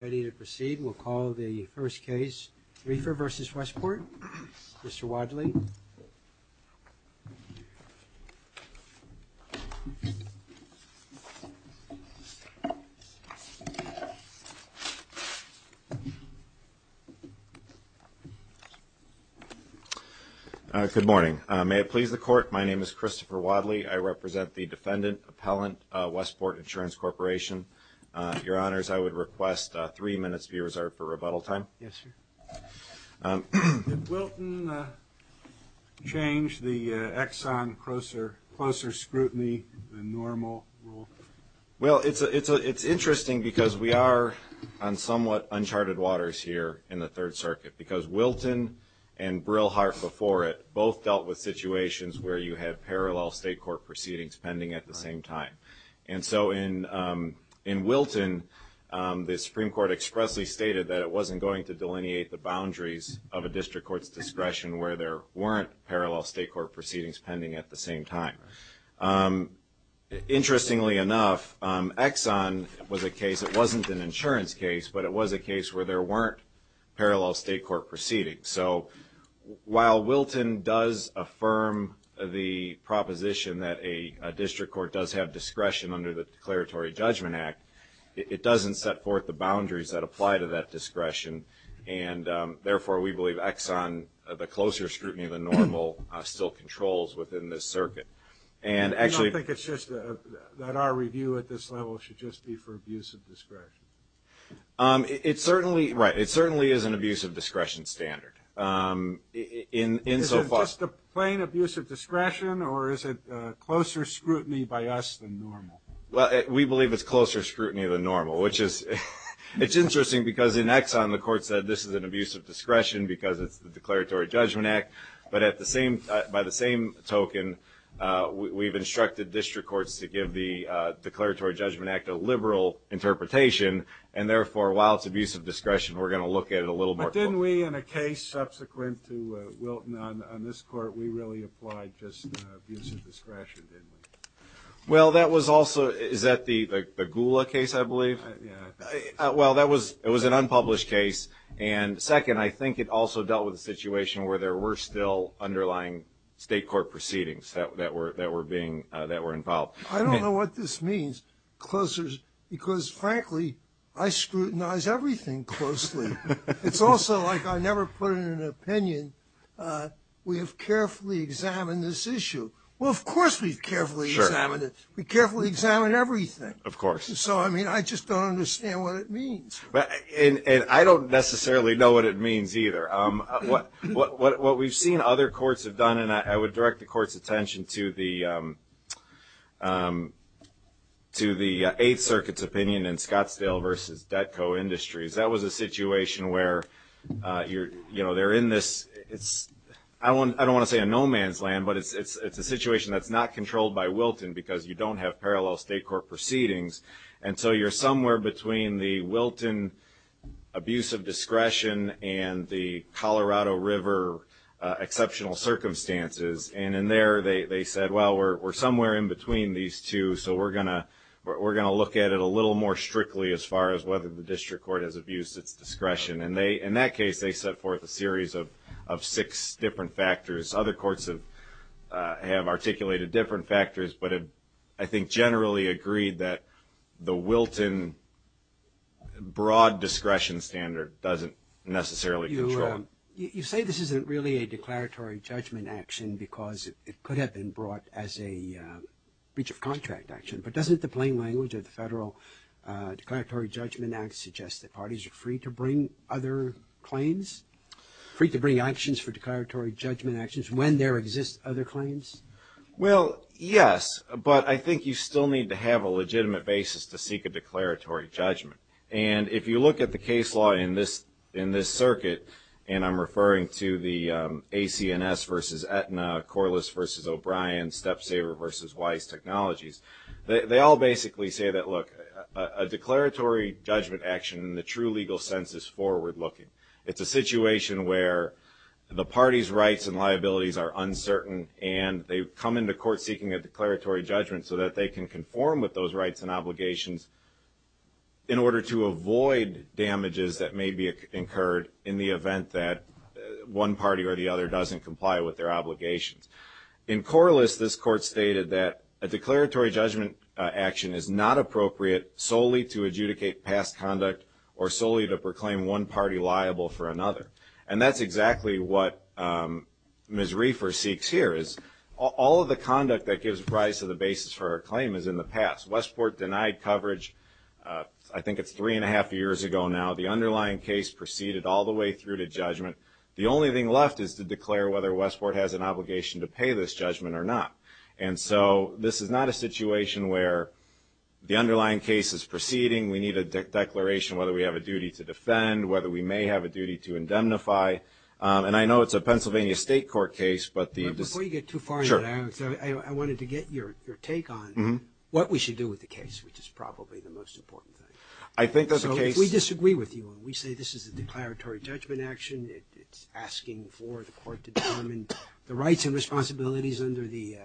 Ready to proceed. We'll call the first case, Reifer v. Westport. Mr. Wadley. Good morning. May it please the court, my name is Christopher Wadley. I represent the defendant appellant, Westport Insurance Corporation. Your Honors, I would request three minutes be reserved for rebuttal time. Yes, sir. Did Wilton change the Exxon closer scrutiny than normal rule? Well, it's interesting because we are on somewhat uncharted waters here in the Third Circuit because Wilton and Brillhart before it both dealt with situations where you have parallel state court proceedings pending at the same time. And so in Wilton, the Supreme Court expressly stated that it wasn't going to delineate the boundaries of a district court's discretion where there weren't parallel state court proceedings pending at the same time. Interestingly enough, Exxon was a case, it wasn't an insurance case, but it was a case where there weren't parallel state court proceedings. So while Wilton does affirm the proposition that a district court does have discretion under the Declaratory Judgment Act, it doesn't set forth the boundaries that apply to that discretion. And therefore, we believe Exxon, the closer scrutiny than normal, still controls within this circuit. And actually, I don't think it's just that our review at this level should just be for abuse of discretion. It certainly, right, it certainly is an abuse of discretion standard. Is it just a plain abuse of discretion, or is it closer scrutiny by us than normal? Well, we believe it's closer scrutiny than normal, which is, it's interesting because in Exxon, the court said this is an abuse of discretion because it's the Declaratory Judgment Act. But at the same, by the same token, we've instructed district courts to give the Declaratory Judgment Act a liberal interpretation. And therefore, while it's a little more... But didn't we, in a case subsequent to Wilton, on this court, we really applied just abuse of discretion, didn't we? Well, that was also, is that the Gula case, I believe? Yeah. Well, that was, it was an unpublished case. And second, I think it also dealt with a situation where there were still underlying state court proceedings that were being, that were involved. I don't know what this means, closer, because frankly, I scrutinize everything closely. It's also like I never put in an opinion, we have carefully examined this issue. Well, of course, we've carefully examined it. We carefully examined everything. Of course. So, I mean, I just don't understand what it means. And I don't necessarily know what it means either. What we've seen other courts have done, and I would direct the court's to the Eighth Circuit's opinion in Scottsdale v. Detco Industries. That was a situation where they're in this, it's, I don't want to say a no man's land, but it's a situation that's not controlled by Wilton because you don't have parallel state court proceedings. And so you're somewhere between the Wilton abuse of discretion and the Colorado River exceptional circumstances. And in there, they said, well, we're somewhere in between these two, so we're going to look at it a little more strictly as far as whether the district court has abused its discretion. And they, in that case, they set forth a series of six different factors. Other courts have articulated different factors, but I think generally agreed that the Wilton broad discretion standard doesn't necessarily control it. You say this isn't really a declaratory judgment action because it could have been brought as a breach of contract action, but doesn't the plain language of the Federal Declaratory Judgment Act suggest that parties are free to bring other claims, free to bring actions for declaratory judgment actions when there exists other claims? Well, yes, but I think you still need to have a legitimate basis to seek a declaratory judgment. And if you look at the case law in this circuit, and I'm referring to the ACNS versus Aetna, Corliss versus O'Brien, Step Saver versus Weiss Technologies, they all basically say that, look, a declaratory judgment action in the true legal sense is forward looking. It's a situation where the party's rights and liabilities are uncertain, and they come into court seeking a declaratory judgment so that they can conform with those rights and obligations in order to avoid damages that may be incurred in the event that one party or the other doesn't comply with their obligations. In Corliss, this court stated that a declaratory judgment action is not appropriate solely to adjudicate past conduct or solely to proclaim one party liable for another. And that's exactly what Ms. Reefer seeks here, is all of the conduct that gives rise to the claim is in the past. Westport denied coverage, I think it's three and a half years ago now. The underlying case proceeded all the way through to judgment. The only thing left is to declare whether Westport has an obligation to pay this judgment or not. And so this is not a situation where the underlying case is proceeding. We need a declaration whether we have a duty to defend, whether we may have a duty to indemnify. And I know it's a Pennsylvania State Court case, but the decision- What we should do with the case, which is probably the most important thing. I think that the case- So if we disagree with you and we say this is a declaratory judgment action, it's asking for the court to determine the rights and responsibilities under the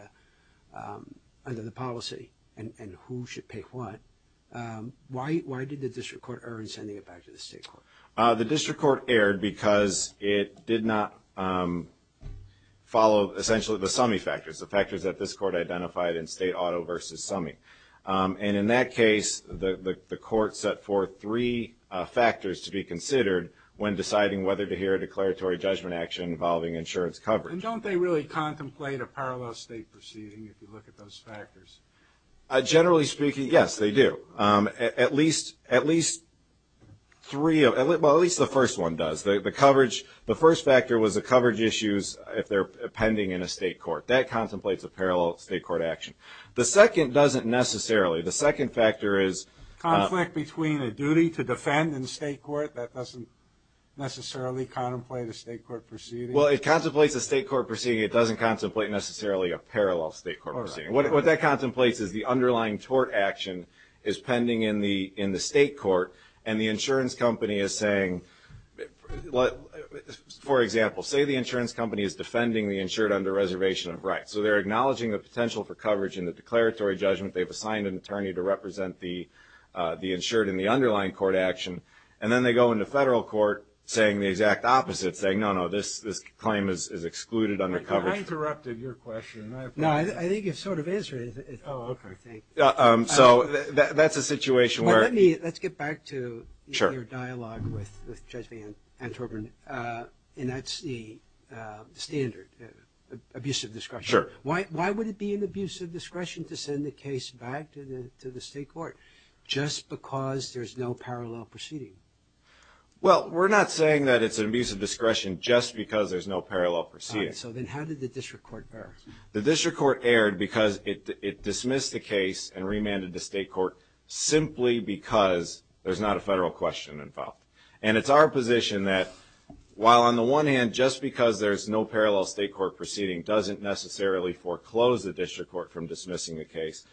policy and who should pay what, why did the district court err in sending it back to the state court? The district court erred because it did not follow essentially the summy factors, the summing. And in that case, the court set forth three factors to be considered when deciding whether to hear a declaratory judgment action involving insurance coverage. And don't they really contemplate a parallel state proceeding if you look at those factors? Generally speaking, yes, they do. At least three of- Well, at least the first one does. The first factor was the coverage issues if they're pending in a state court. That contemplates a parallel state court action. The second doesn't necessarily. The second factor is- Conflict between a duty to defend in state court, that doesn't necessarily contemplate a state court proceeding? Well, it contemplates a state court proceeding. It doesn't contemplate necessarily a parallel state court proceeding. What that contemplates is the underlying tort action is pending in the state court and the insurance company is saying- For example, say the insurance company is defending the insured under reservation of rights. So they're acknowledging the potential for coverage in the declaratory judgment. They've assigned an attorney to represent the insured in the underlying court action. And then they go into federal court saying the exact opposite, saying, no, no, this claim is excluded under coverage. I interrupted your question. I apologize. No, I think you've sort of answered it. Oh, okay. I think. So that's a situation where- Well, let's get back to your dialogue with Judge Van Antwerpen and that's the standard, abuse of discretion. Why would it be an abuse of discretion to send the case back to the state court just because there's no parallel proceeding? Well, we're not saying that it's an abuse of discretion just because there's no parallel proceeding. All right. So then how did the district court bear? The district court erred because it dismissed the case and remanded the state court simply because there's not a federal question involved. And it's our position that while on the one hand, just because there's no parallel state court proceeding doesn't necessarily foreclose the district court from dismissing the case,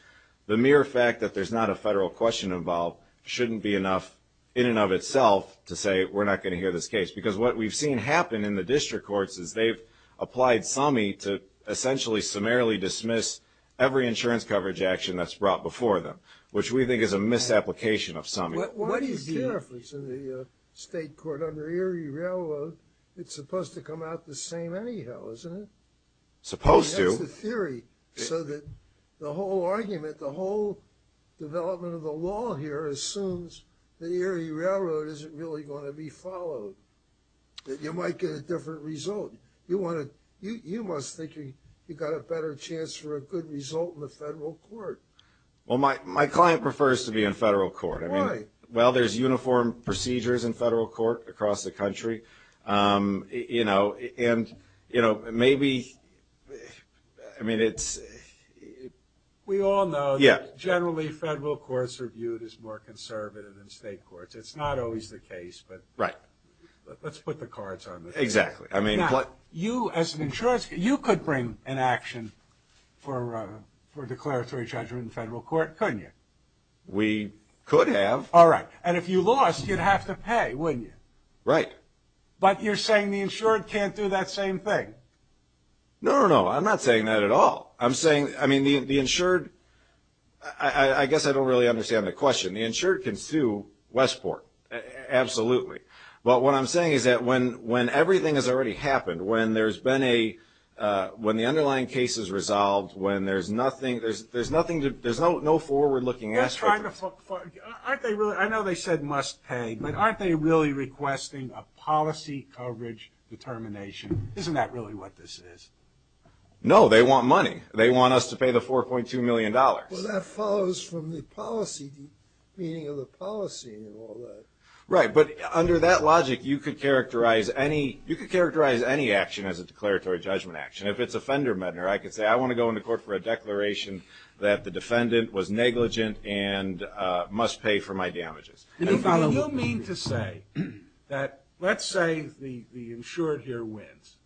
the mere fact that there's not a federal question involved shouldn't be enough in and of itself to say we're not going to hear this case. Because what we've seen happen in the district courts is they've applied summy to essentially summarily dismiss every insurance coverage action that's brought before them, which we think is a misapplication of summy. Why do you care if it's in the state court under Erie Railroad? It's supposed to come out the same anyhow, isn't it? Supposed to. That's the theory. So that the whole argument, the whole development of the law here assumes that Erie Railroad isn't really going to be followed, that you might get a different result. You must think you got a better chance for a good result in the federal court. Well, my client prefers to be in federal court. Why? Well, there's uniform procedures in federal court across the country. You know, and, you know, maybe, I mean, it's... We all know that generally federal courts are viewed as more conservative than state courts. It's not always the case, but let's put the cards on the table. Exactly. Now, you as an insurance, you could bring an action for declaratory judgment in federal court, couldn't you? We could have. All right. And if you lost, you'd have to pay, wouldn't you? Right. But you're saying the insured can't do that same thing? No, no, no. I'm not saying that at all. I'm saying, I mean, the insured... I guess I don't really understand the question. The insured can sue Westport. Absolutely. But what I'm saying is that when everything has already happened, when there's been a... When the underlying case is resolved, when there's nothing... They're trying to... Aren't they really... I know they said must pay, but aren't they really requesting a policy coverage determination? Isn't that really what this is? No. They want money. They want us to pay the $4.2 million. Well, that follows from the policy, the meaning of the policy and all that. Right. But under that logic, you could characterize any... You could characterize any action as a declaratory judgment action. If it's a fender-mender, I could say, I want to go into court for a declaration that the and must pay for my damages. And if you mean to say that, let's say the insured here wins.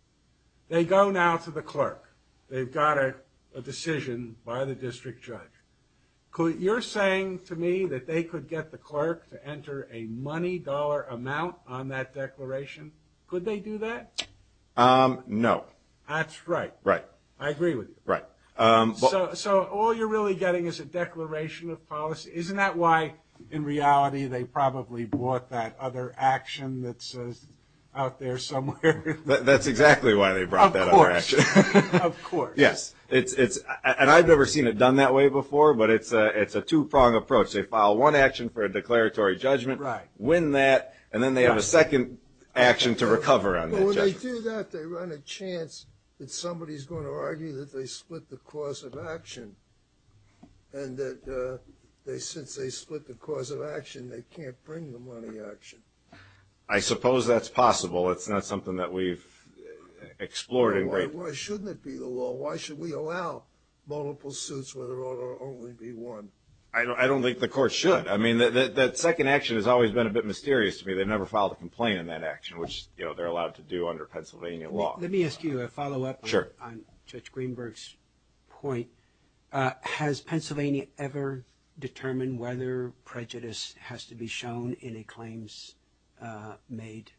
They go now to the clerk. They've got a decision by the district judge. You're saying to me that they could get the clerk to enter a money-dollar amount on that declaration. Could they do that? No. That's right. Right. I agree with you. Right. So all you're really getting is a declaration of policy. Isn't that why, in reality, they probably brought that other action that's out there somewhere? That's exactly why they brought that other action. Of course. Of course. Yes. And I've never seen it done that way before, but it's a two-pronged approach. They file one action for a declaratory judgment, win that, and then they have a second action to recover on that judgment. If they do that, they run a chance that somebody's going to argue that they split the cause of action, and that since they split the cause of action, they can't bring the money action. I suppose that's possible. It's not something that we've explored in great detail. Why shouldn't it be the law? Why should we allow multiple suits when there ought to only be one? I don't think the court should. I mean, that second action has always been a bit mysterious to me. They've never filed a complaint on that action, which they're allowed to do under Pennsylvania law. Let me ask you a follow-up on Judge Greenberg's point. Has Pennsylvania ever determined whether prejudice has to be shown in a claims-made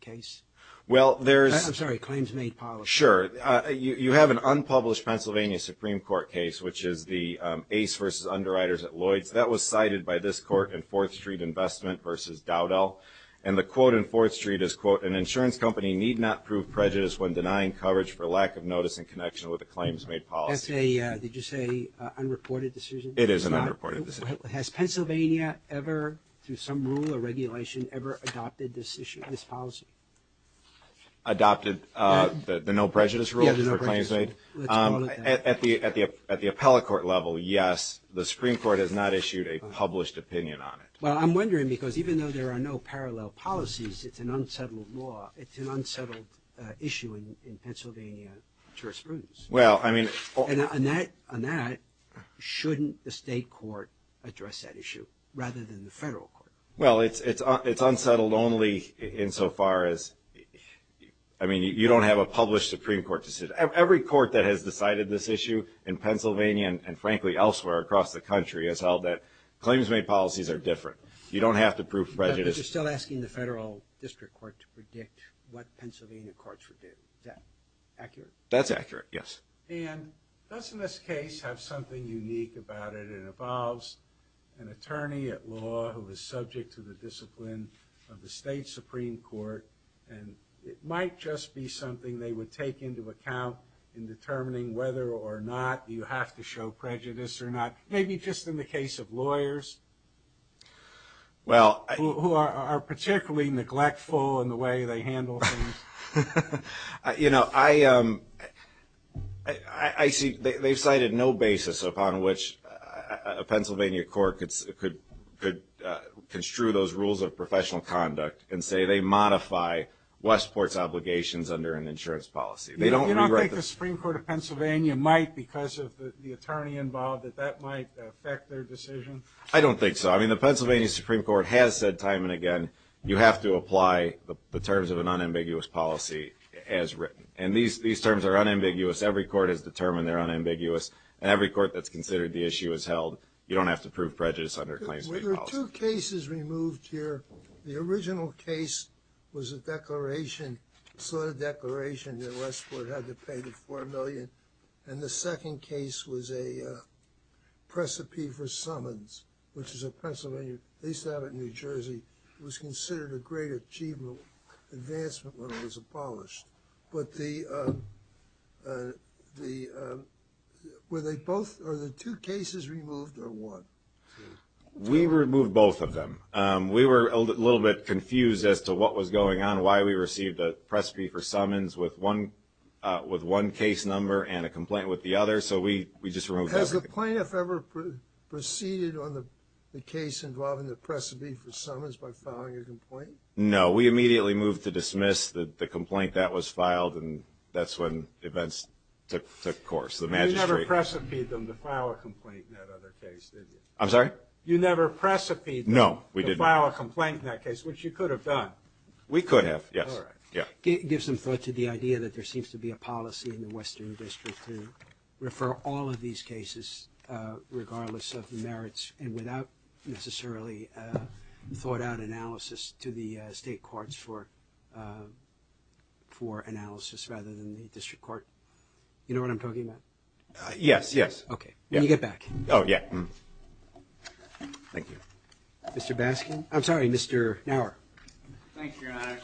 case? I'm sorry, claims-made policy. Sure. You have an unpublished Pennsylvania Supreme Court case, which is the Ace v. Underwriters at Lloyd's. That was cited by this court in Fourth Street Investment v. Dowdell. And the quote in Fourth Street is, quote, an insurance company need not prove prejudice when denying coverage for lack of notice in connection with a claims-made policy. That's a, did you say, unreported decision? It is an unreported decision. Has Pennsylvania ever, through some rule or regulation, ever adopted this issue, this policy? Adopted the no prejudice rule for claims-made? At the appellate court level, yes. The Supreme Court has not issued a published opinion on it. Well, I'm wondering, because even though there are no parallel policies, it's an unsettled law, it's an unsettled issue in Pennsylvania jurisprudence. Well, I mean, And on that, shouldn't the state court address that issue, rather than the federal court? Well, it's unsettled only insofar as, I mean, you don't have a published Supreme Court decision. Every court that has decided this issue in Pennsylvania, and frankly, elsewhere across the country, has held that claims-made policies are different. You don't have to prove prejudice. But you're still asking the federal district court to predict what Pennsylvania courts predict. Is that accurate? That's accurate, yes. And doesn't this case have something unique about it, it involves an attorney at law who is subject to the discipline of the state Supreme Court, and it might just be something they would take into account in determining whether or not you have to show prejudice or not. Maybe just in the case of lawyers, who are particularly neglectful in the way they handle things. You know, I see, they've cited no basis upon which a Pennsylvania court could construe those rules of professional conduct and say they modify Westport's obligations under an insurance policy. You don't think the Supreme Court of Pennsylvania might, because of the attorney involved, that that might affect their decision? I don't think so. I mean, the Pennsylvania Supreme Court has said time and again, you have to apply the terms of an unambiguous policy as written. And these terms are unambiguous. Every court has determined they're unambiguous, and every court that's considered the issue has held, you don't have to prove prejudice under a claims-made policy. There are two cases removed here. The original case was a declaration, a slotted declaration that Westport had to pay the $4 million, and the second case was a precipice for summons, which is a Pennsylvania, at least I have it in New Jersey, was considered a great achievement, advancement when it was abolished. But the, were they both, are the two cases removed or one? We removed both of them. We were a little bit confused as to what was going on, why we received a precipice for summons with one case number and a complaint with the other. So we just removed everything. Has the plaintiff ever proceeded on the case involving the precipice for summons by filing a complaint? No. We immediately moved to dismiss the complaint that was filed, and that's when events took course, the magistrate. You never precipitied them to file a complaint in that other case, did you? I'm sorry? You never precipitied them to file a complaint in that case, which you could have done. We could have, yes. All right. Give some thought to the idea that there seems to be a policy in the Western District to refer all of these cases regardless of merits and without necessarily thought-out analysis to the state courts for analysis rather than the district court. You know what I'm talking about? Yes, yes. Okay. When you get back. Oh, yeah. Thank you. Mr. Baskin? I'm sorry, Mr. Naur. Thank you, Your Honor.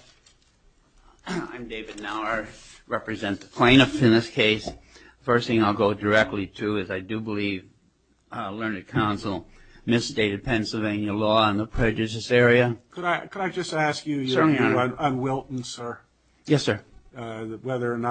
I'm David Naur. I represent the plaintiff in this case. The first thing I'll go directly to is I do believe Learned Counsel misstated Pennsylvania law on the prejudice area. Could I just ask you your view on Wilton, sir? Yes, sir. I believe Wilton,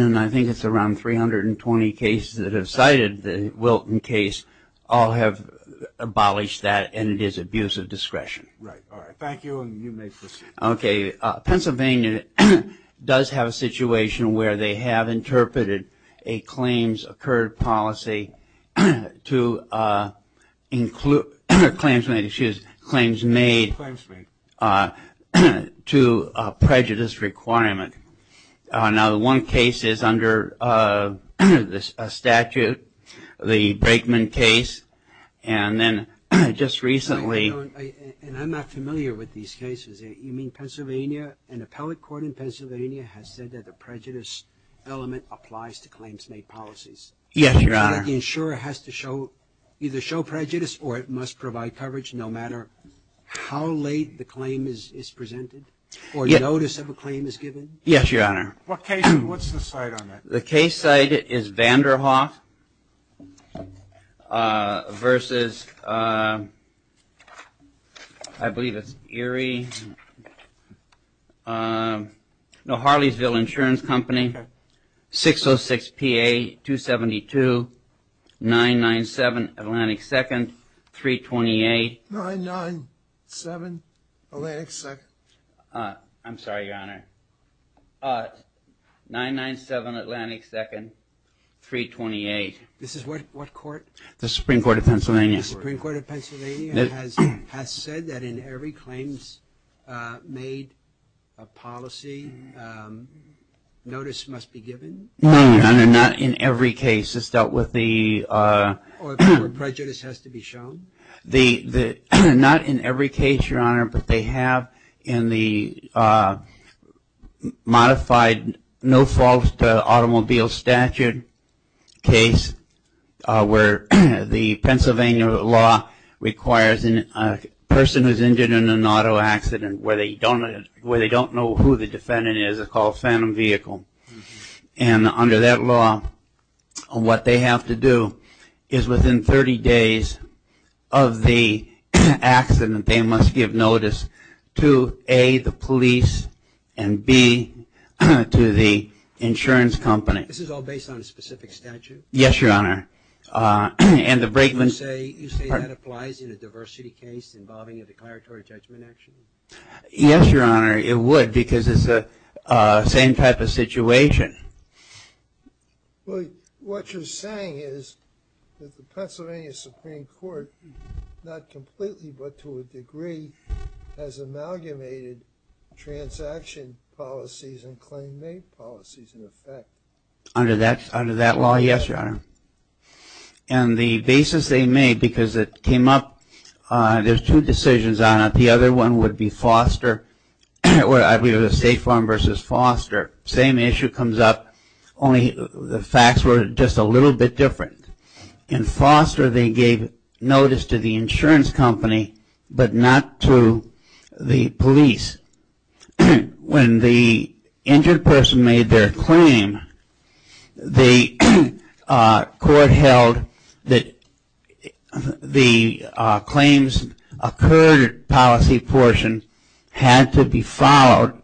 and I think it's around 320 cases that have cited the Wilton case, all have abolished that, and it is abuse of discretion. Right. All right. Thank you. And you may proceed. Okay. So Pennsylvania does have a situation where they have interpreted a claims-occurred policy to include claims made to prejudice requirement. Now, the one case is under a statute, the Brakeman case, and then just recently – In Pennsylvania, an appellate court in Pennsylvania has said that the prejudice element applies to claims-made policies. Yes, Your Honor. And the insurer has to show – either show prejudice or it must provide coverage no matter how late the claim is presented or notice of a claim is given? Yes, Your Honor. What case – what's the site on that? The case site is Vanderhoff versus – I believe it's Erie – no, Harleysville Insurance Company, 606PA-272-997 Atlantic 2nd, 328 – 997 Atlantic 2nd. I'm sorry, Your Honor. 997 Atlantic 2nd, 328. This is what court? The Supreme Court of Pennsylvania. The Supreme Court of Pennsylvania has said that in every claims-made policy, notice must be given? No, Your Honor. Not in every case. It's dealt with the – Or prejudice has to be shown? The – not in every case, Your Honor, but they have in the modified no-fault automobile statute case where the Pennsylvania law requires a person who's injured in an auto accident where they don't know who the defendant is is called a phantom vehicle. And under that law, what they have to do is within 30 days of the accident, they must give notice to A, the police, and B, to the insurance company. This is all based on a specific statute? Yes, Your Honor. And the brakeman – You say that applies in a diversity case involving a declaratory judgment action? Yes, Your Honor. It would because it's the same type of situation. What you're saying is that the Pennsylvania Supreme Court, not completely but to a degree, has amalgamated transaction policies and claim-made policies in effect? Under that law, yes, Your Honor. And the basis they made because it came up – there's two decisions on it. The other one would be Foster – I believe it was State Farm versus Foster. Same issue comes up, only the facts were just a little bit different. In Foster, they gave notice to the insurance company but not to the police. When the injured person made their claim, the court held that the claims occurred policy portion had to be followed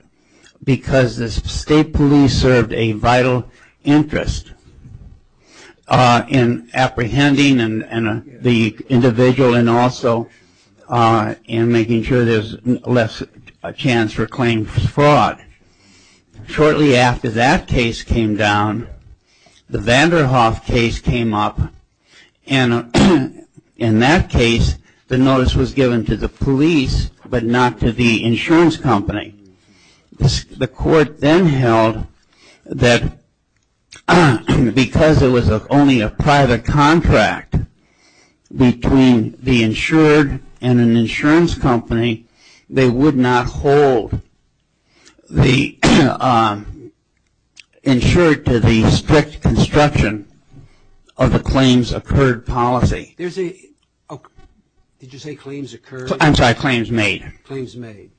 because the state police served a vital interest in apprehending the individual and also in making sure there's less chance for claim fraud. Shortly after that case came down, the Vanderhoff case came up, and in that case, the notice was given to the police but not to the insurance company. The court then held that because it was only a private contract between the insured and an insurance company, they would not hold the insured to the strict construction of the claims-occurred policy. Did you say claims occurred? I'm sorry, claims made. Claims made.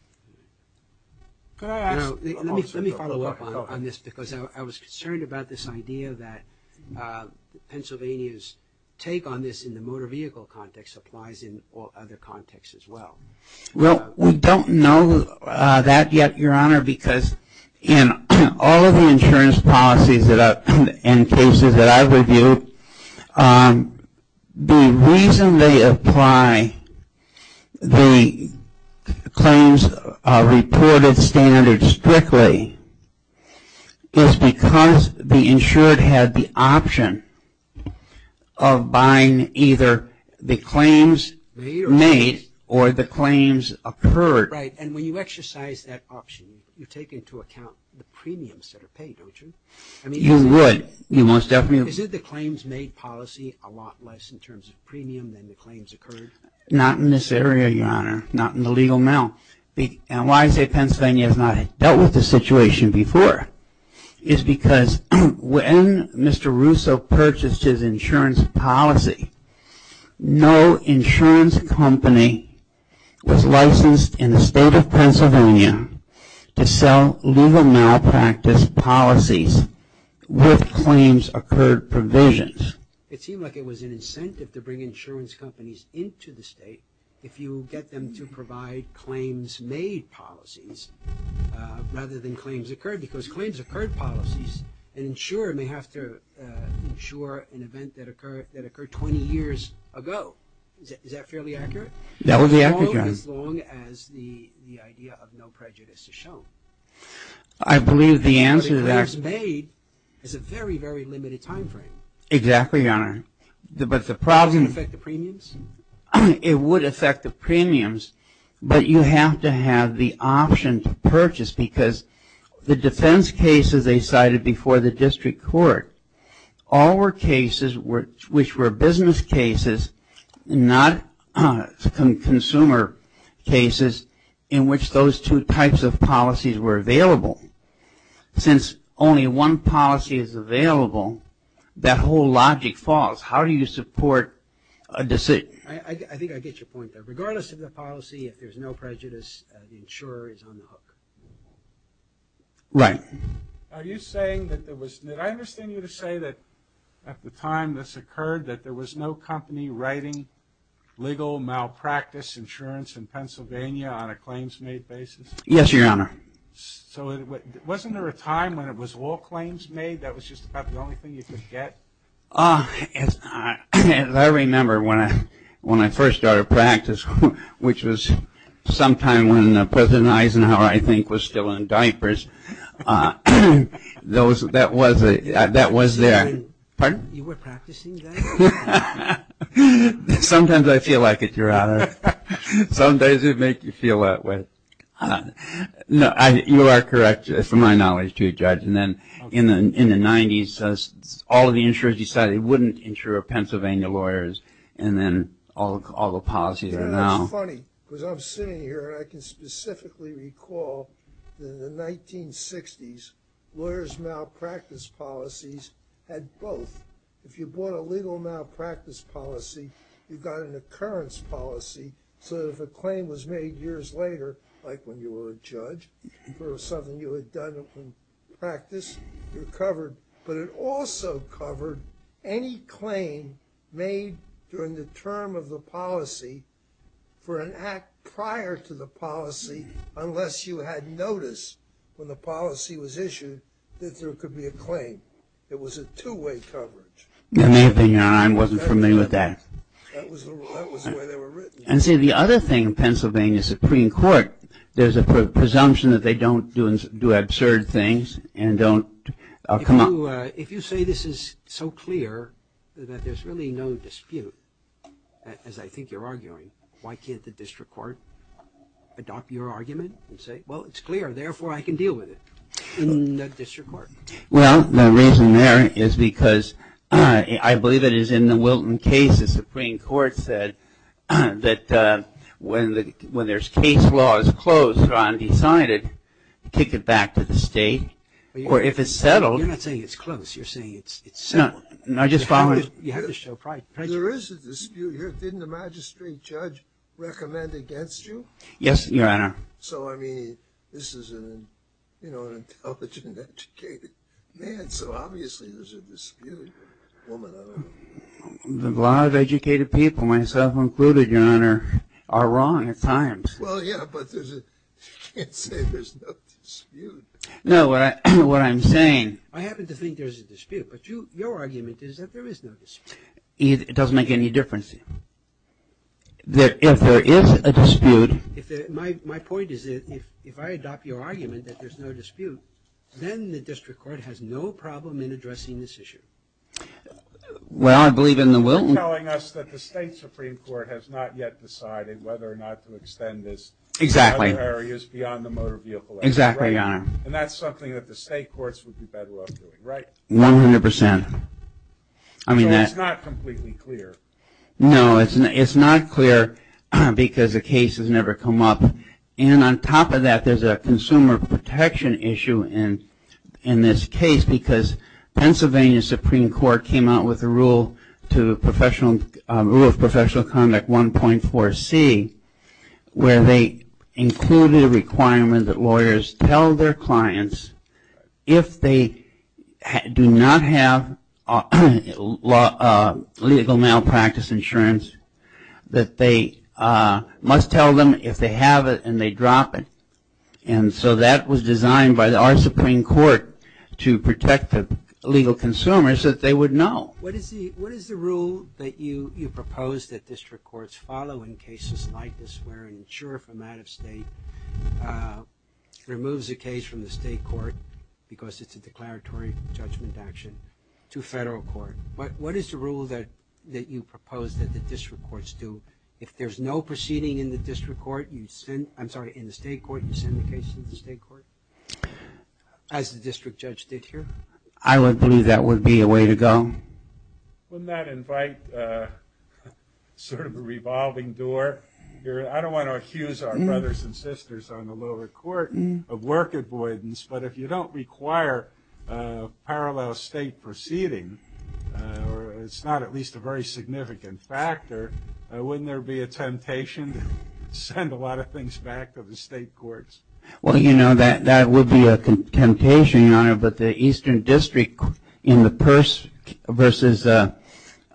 Let me follow up on this because I was concerned about this idea that Pennsylvania's take on this in the motor vehicle context applies in other contexts as well. Well, we don't know that yet, Your Honor, because in all of the insurance policies and cases that I've reviewed, the reason they apply the claims reported standard strictly is because the insured had the option of buying either the claims made or the claims occurred. Right, and when you exercise that option, you take into account the premiums that are paid, don't you? You would. You most definitely would. Isn't the claims made policy a lot less in terms of premium than the claims occurred? Not in this area, Your Honor, not in the legal male. And why I say Pennsylvania has not dealt with this situation before is because when Mr. Russo purchased his insurance policy, no insurance company was licensed in the state of Pennsylvania to sell legal malpractice policies with claims occurred provisions. It seemed like it was an incentive to bring insurance companies into the state if you get them to provide claims made policies rather than claims occurred because claims occurred policies, an insurer may have to insure an event that occurred 20 years ago. Is that fairly accurate? That would be accurate, Your Honor. No, as long as the idea of no prejudice is shown. I believe the answer to that. But the claims made is a very, very limited time frame. Exactly, Your Honor. Does it affect the premiums? It would affect the premiums, but you have to have the option to purchase because the defense cases they cited before the district court, all were cases which were business cases, not consumer cases in which those two types of policies were available. Since only one policy is available, that whole logic falls. How do you support a decision? I think I get your point there. Regardless of the policy, if there's no prejudice, the insurer is on the hook. Right. Are you saying that there was, did I understand you to say that at the time this occurred that there was no company writing legal malpractice insurance in Pennsylvania on a claims made basis? Yes, Your Honor. So wasn't there a time when it was all claims made, that was just about the only thing you could get? As I remember, when I first started practice, which was sometime when President Eisenhower I think was still in diapers, that was there. Pardon? You were practicing then? Sometimes I feel like it, Your Honor. Sometimes it makes you feel that way. No, you are correct from my knowledge too, Judge. And then in the 90s, all of the insurers decided they wouldn't insure Pennsylvania lawyers and then all the policies are now. It's funny because I'm sitting here and I can specifically recall that in the 1960s, lawyers malpractice policies had both. If you bought a legal malpractice policy, you got an occurrence policy. So if a claim was made years later, like when you were a judge or something you had done in practice, you're covered. But it also covered any claim made during the term of the policy for an act prior to the policy unless you had notice when the policy was issued that there could be a claim. It was a two-way coverage. In my opinion, Your Honor, I wasn't familiar with that. That was the way they were written. And see, the other thing, Pennsylvania Supreme Court, there's a presumption that they don't do absurd things and don't come up. If you say this is so clear that there's really no dispute, as I think you're arguing, why can't the district court adopt your argument and say, well, it's clear, therefore, I can deal with it in the district court? Well, the reason there is because I believe it is in the Wilton case the Supreme Court said that when there's case law is closed or undecided, kick it back to the state. Or if it's settled. You're not saying it's closed. You're saying it's settled. You have to show pride. There is a dispute. Didn't the magistrate judge recommend against you? Yes, Your Honor. So, I mean, this is an intelligent, educated man. So obviously there's a dispute. A lot of educated people, myself included, Your Honor, are wrong at times. Well, yeah, but you can't say there's no dispute. No, what I'm saying. I happen to think there's a dispute. But your argument is that there is no dispute. It doesn't make any difference. If there is a dispute. My point is if I adopt your argument that there's no dispute, then the district court has no problem in addressing this issue. Well, I believe in the Wilton. You're telling us that the state Supreme Court has not yet decided whether or not to extend this to other areas beyond the motor vehicle area. Exactly, Your Honor. And that's something that the state courts would be better off doing, right? One hundred percent. So it's not completely clear. No, it's not clear because the case has never come up. And on top of that, there's a consumer protection issue in this case because Pennsylvania Supreme Court came out with a rule of professional conduct 1.4C where they included a requirement that lawyers tell their clients if they do not have legal malpractice insurance that they must tell them if they have it and they drop it. And so that was designed by our Supreme Court to protect the legal consumers that they would know. What is the rule that you propose that district courts follow in cases like this where an insurer from out of state removes a case from the state court because it's a declaratory judgment action to federal court? What is the rule that you propose that the district courts do? If there's no proceeding in the district court, I'm sorry, in the state court, you send the case to the state court as the district judge did here? I would believe that would be a way to go. Wouldn't that invite sort of a revolving door? I don't want to accuse our brothers and sisters on the lower court of work avoidance, but if you don't require a parallel state proceeding, it's not at least a very significant factor, wouldn't there be a temptation to send a lot of things back to the state courts? Well, you know, that would be a temptation, Your Honor, but the Eastern District in the purse versus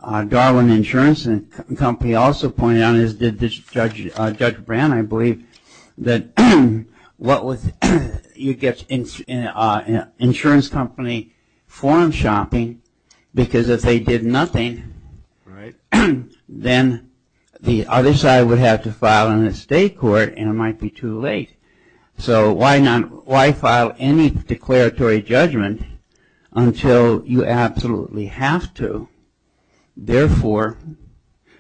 Darwin Insurance Company also pointed out, as did Judge Brown, I believe, that you get insurance company forum shopping because if they did nothing, then the other side would have to file in the state court and it might be too late. So why file any declaratory judgment until you absolutely have to? Therefore,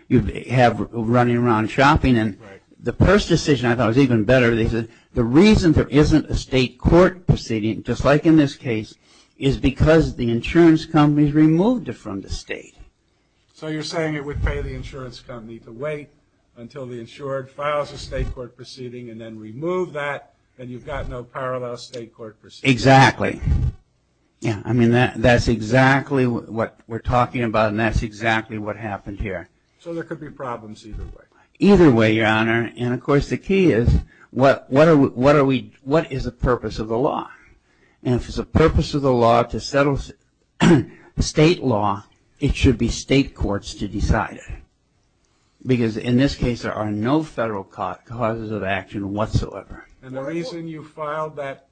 you have running around shopping. And the purse decision, I thought, was even better. They said the reason there isn't a state court proceeding, just like in this case, is because the insurance company has removed it from the state. So you're saying it would pay the insurance company to wait until the insured files a state court proceeding and then remove that, and you've got no parallel state court proceeding? Exactly. I mean, that's exactly what we're talking about and that's exactly what happened here. So there could be problems either way. Either way, Your Honor, and of course the key is what is the purpose of the law? And if it's the purpose of the law to settle state law, it should be state courts to decide it because in this case there are no federal causes of action whatsoever. And the reason you filed that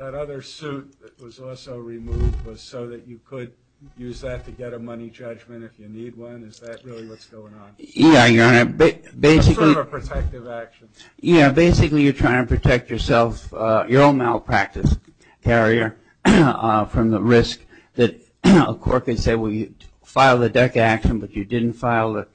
other suit that was also removed was so that you could use that to get a money judgment if you need one? Is that really what's going on? Yeah, Your Honor. It's sort of a protective action. Yeah, basically you're trying to protect yourself, your own malpractice carrier, from the risk that a court could say, well, you filed a DECA action but you didn't file the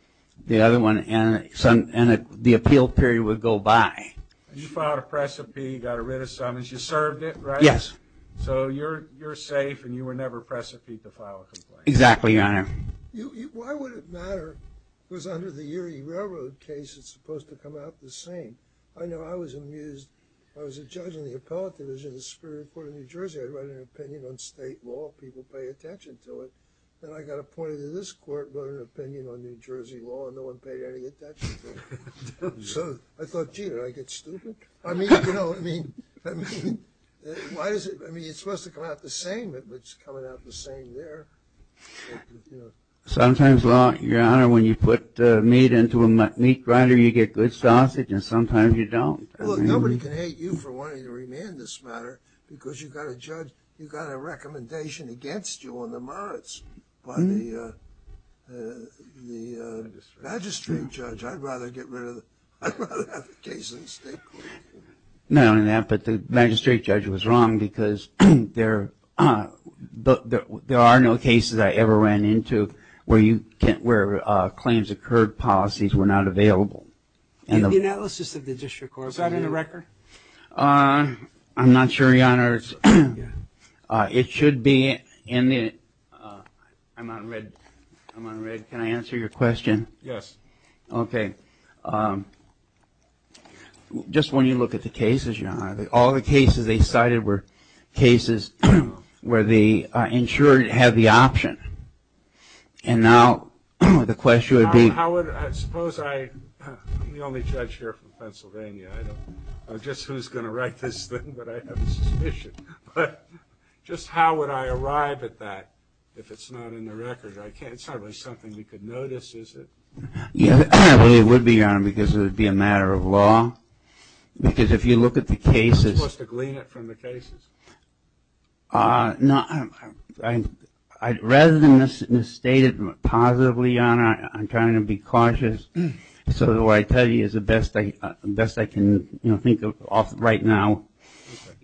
other one and the appeal period would go by. You filed a precipi, got rid of summons, you served it, right? Yes. So you're safe and you were never precipit to file a complaint. Exactly, Your Honor. Why would it matter? It was under the Erie Railroad case, it's supposed to come out the same. I know I was amused. I was a judge in the appellate division of the Superior Court of New Jersey. I'd write an opinion on state law, people pay attention to it. Then I got appointed to this court, wrote an opinion on New Jersey law and no one paid any attention to it. So I thought, gee, did I get stupid? I mean, you know, I mean, it's supposed to come out the same, but it's coming out the same there. Sometimes, Your Honor, when you put meat into a meat grinder, you get good sausage and sometimes you don't. Nobody can hate you for wanting to remand this matter because you've got a judge, you've got a recommendation against you on the merits by the magistrate judge. I'd rather have the case in the state court. Not only that, but the magistrate judge was wrong because there are no cases I ever ran into where claims occurred, policies were not available. In the analysis of the district court, is that in the record? I'm not sure, Your Honor. It should be in the, I'm on red, I'm on red. Can I answer your question? Yes. Okay. Just when you look at the cases, Your Honor, all the cases they cited were cases where the insurer had the option. And now the question would be. How would, suppose I, I'm the only judge here from Pennsylvania. I don't know just who's going to write this thing, but I have a suspicion. But just how would I arrive at that if it's not in the record? I can't, it's not really something we could notice, is it? It would be, Your Honor, because it would be a matter of law. Because if you look at the cases. You're supposed to glean it from the cases. Rather than state it positively, Your Honor, I'm trying to be cautious. So what I tell you is the best I can think of right now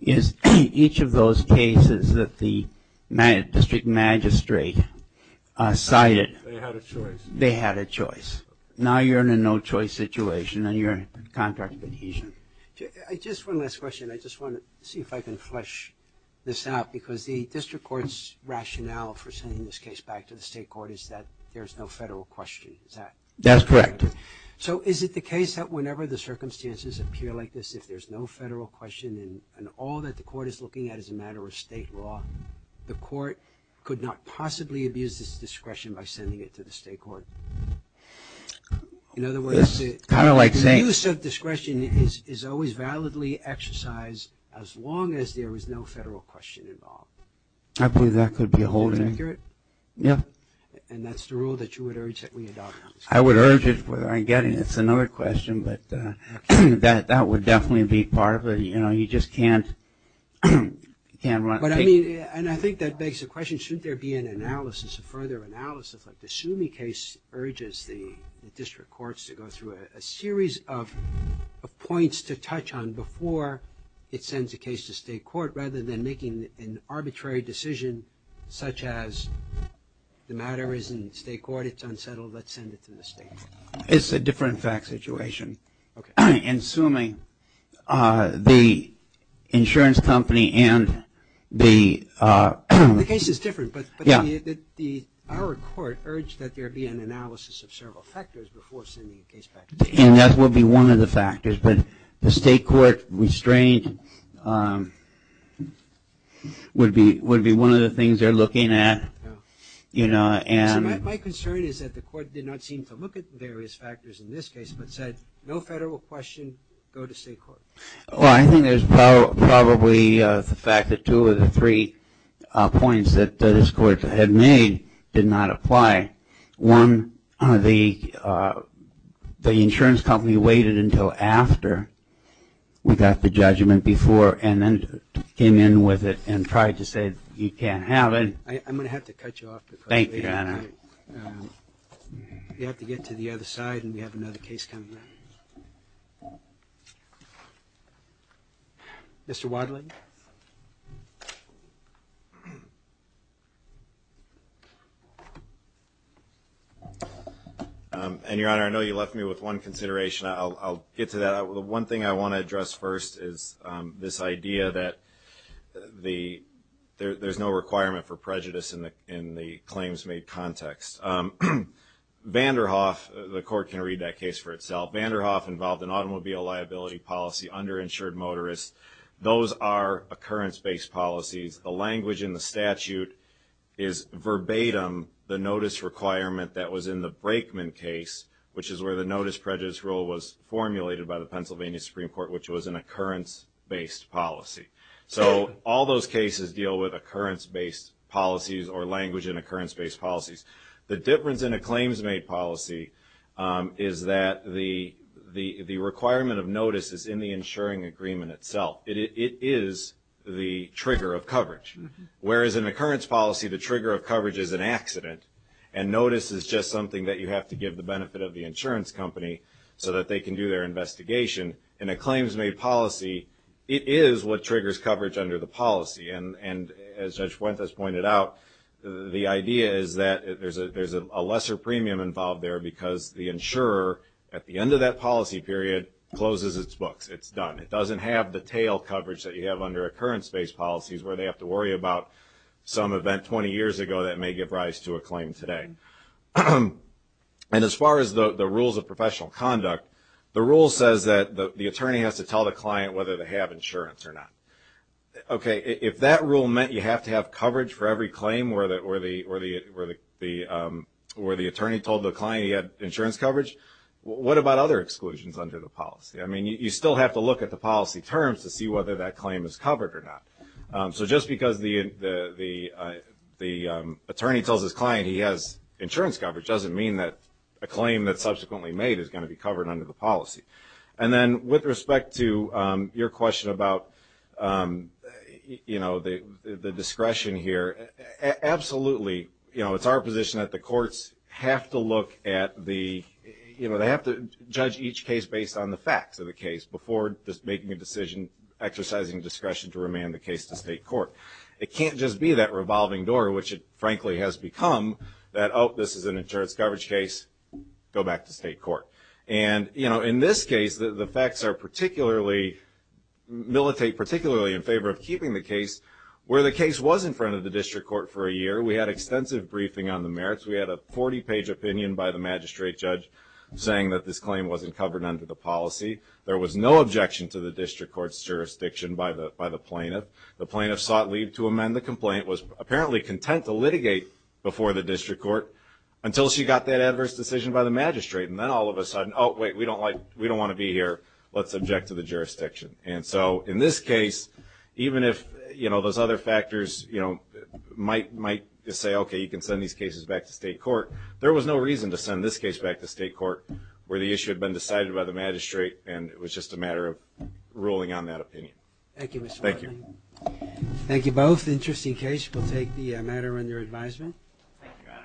is each of those cases that the district magistrate cited. They had a choice. They had a choice. Now you're in a no-choice situation and you're in contract adhesion. Just one last question. I just want to see if I can flesh this out. Because the district court's rationale for sending this case back to the state court is that there's no federal question. Is that correct? That's correct. So is it the case that whenever the circumstances appear like this, if there's no federal question and all that the court is looking at is a matter of state law, the court could not possibly abuse this discretion by sending it to the state court? In other words, the use of discretion is always validly exercised as long as there is no federal question involved. I believe that could be a holding. Is that accurate? Yeah. And that's the rule that you would urge that we adopt? I would urge it whether I'm getting it. It's another question, but that would definitely be part of it. You know, you just can't run. And I think that begs the question, should there be an analysis, a further analysis, like the Sumi case urges the district courts to go through a series of points to touch on before it sends a case to state court rather than making an arbitrary decision such as the matter is in state court, it's unsettled, let's send it to the state court. It's a different fact situation. Okay. In Sumi, the insurance company and the... The case is different. Yeah. But our court urged that there be an analysis of several factors before sending a case back to the state court. And that would be one of the factors. But the state court restraint would be one of the things they're looking at, you know, and... My concern is that the court did not seem to look at the various factors in this case but said no federal question, go to state court. Well, I think there's probably the fact that two of the three points that this court had made did not apply. Okay. One, the insurance company waited until after we got the judgment before and then came in with it and tried to say you can't have it. I'm going to have to cut you off. Thank you. You have to get to the other side and we have another case coming up. Mr. Wadley. And, Your Honor, I know you left me with one consideration. I'll get to that. The one thing I want to address first is this idea that there's no requirement for prejudice in the claims made context. Vanderhoff, the court can read that case for itself. Vanderhoff involved an automobile liability policy, underinsured motorists. Those are occurrence-based policies. The language in the statute is verbatim the notice requirement that was in the Brakeman case, which is where the notice prejudice rule was formulated by the Pennsylvania Supreme Court, which was an occurrence-based policy. So all those cases deal with occurrence-based policies or language in occurrence-based policies. The difference in a claims-made policy is that the requirement of notice is in the insuring agreement itself. It is the trigger of coverage. Whereas in an occurrence policy, the trigger of coverage is an accident and notice is just something that you have to give the benefit of the insurance company so that they can do their investigation. In a claims-made policy, it is what triggers coverage under the policy. And as Judge Fuentes pointed out, the idea is that there's a lesser premium involved there because the insurer, at the end of that policy period, closes its books. It's done. It doesn't have the tail coverage that you have under occurrence-based policies where they have to worry about some event 20 years ago that may give rise to a claim today. And as far as the rules of professional conduct, the rule says that the attorney has to tell the client whether they have insurance or not. Okay, if that rule meant you have to have coverage for every claim where the attorney told the client he had insurance coverage, what about other exclusions under the policy? I mean, you still have to look at the policy terms to see whether that claim is covered or not. So just because the attorney tells his client he has insurance coverage doesn't mean that a claim that's subsequently made is going to be covered under the policy. And then with respect to your question about, you know, the discretion here, absolutely, you know, it's our position that the courts have to look at the, you know, they have to judge each case based on the facts of the case before just making a decision, exercising discretion to remand the case to state court. It can't just be that revolving door, which it, frankly, has become, that, oh, this is an insurance coverage case, go back to state court. And, you know, in this case, the facts are particularly, militate particularly in favor of keeping the case where the case was in front of the district court for a year. We had extensive briefing on the merits. We had a 40-page opinion by the magistrate judge saying that this claim wasn't covered under the policy. There was no objection to the district court's jurisdiction by the plaintiff. The plaintiff sought leave to amend the complaint, was apparently content to litigate before the district court until she got that adverse decision by the magistrate. And then all of a sudden, oh, wait, we don't like, we don't want to be here. Let's object to the jurisdiction. And so in this case, even if, you know, those other factors, you know, might say, okay, you can send these cases back to state court. There was no reason to send this case back to state court where the issue had been decided by the magistrate and it was just a matter of ruling on that opinion. Thank you, Mr. Hartley. Thank you. Thank you both. Interesting case. We'll take the matter under advisement. Thank you, Your Honor.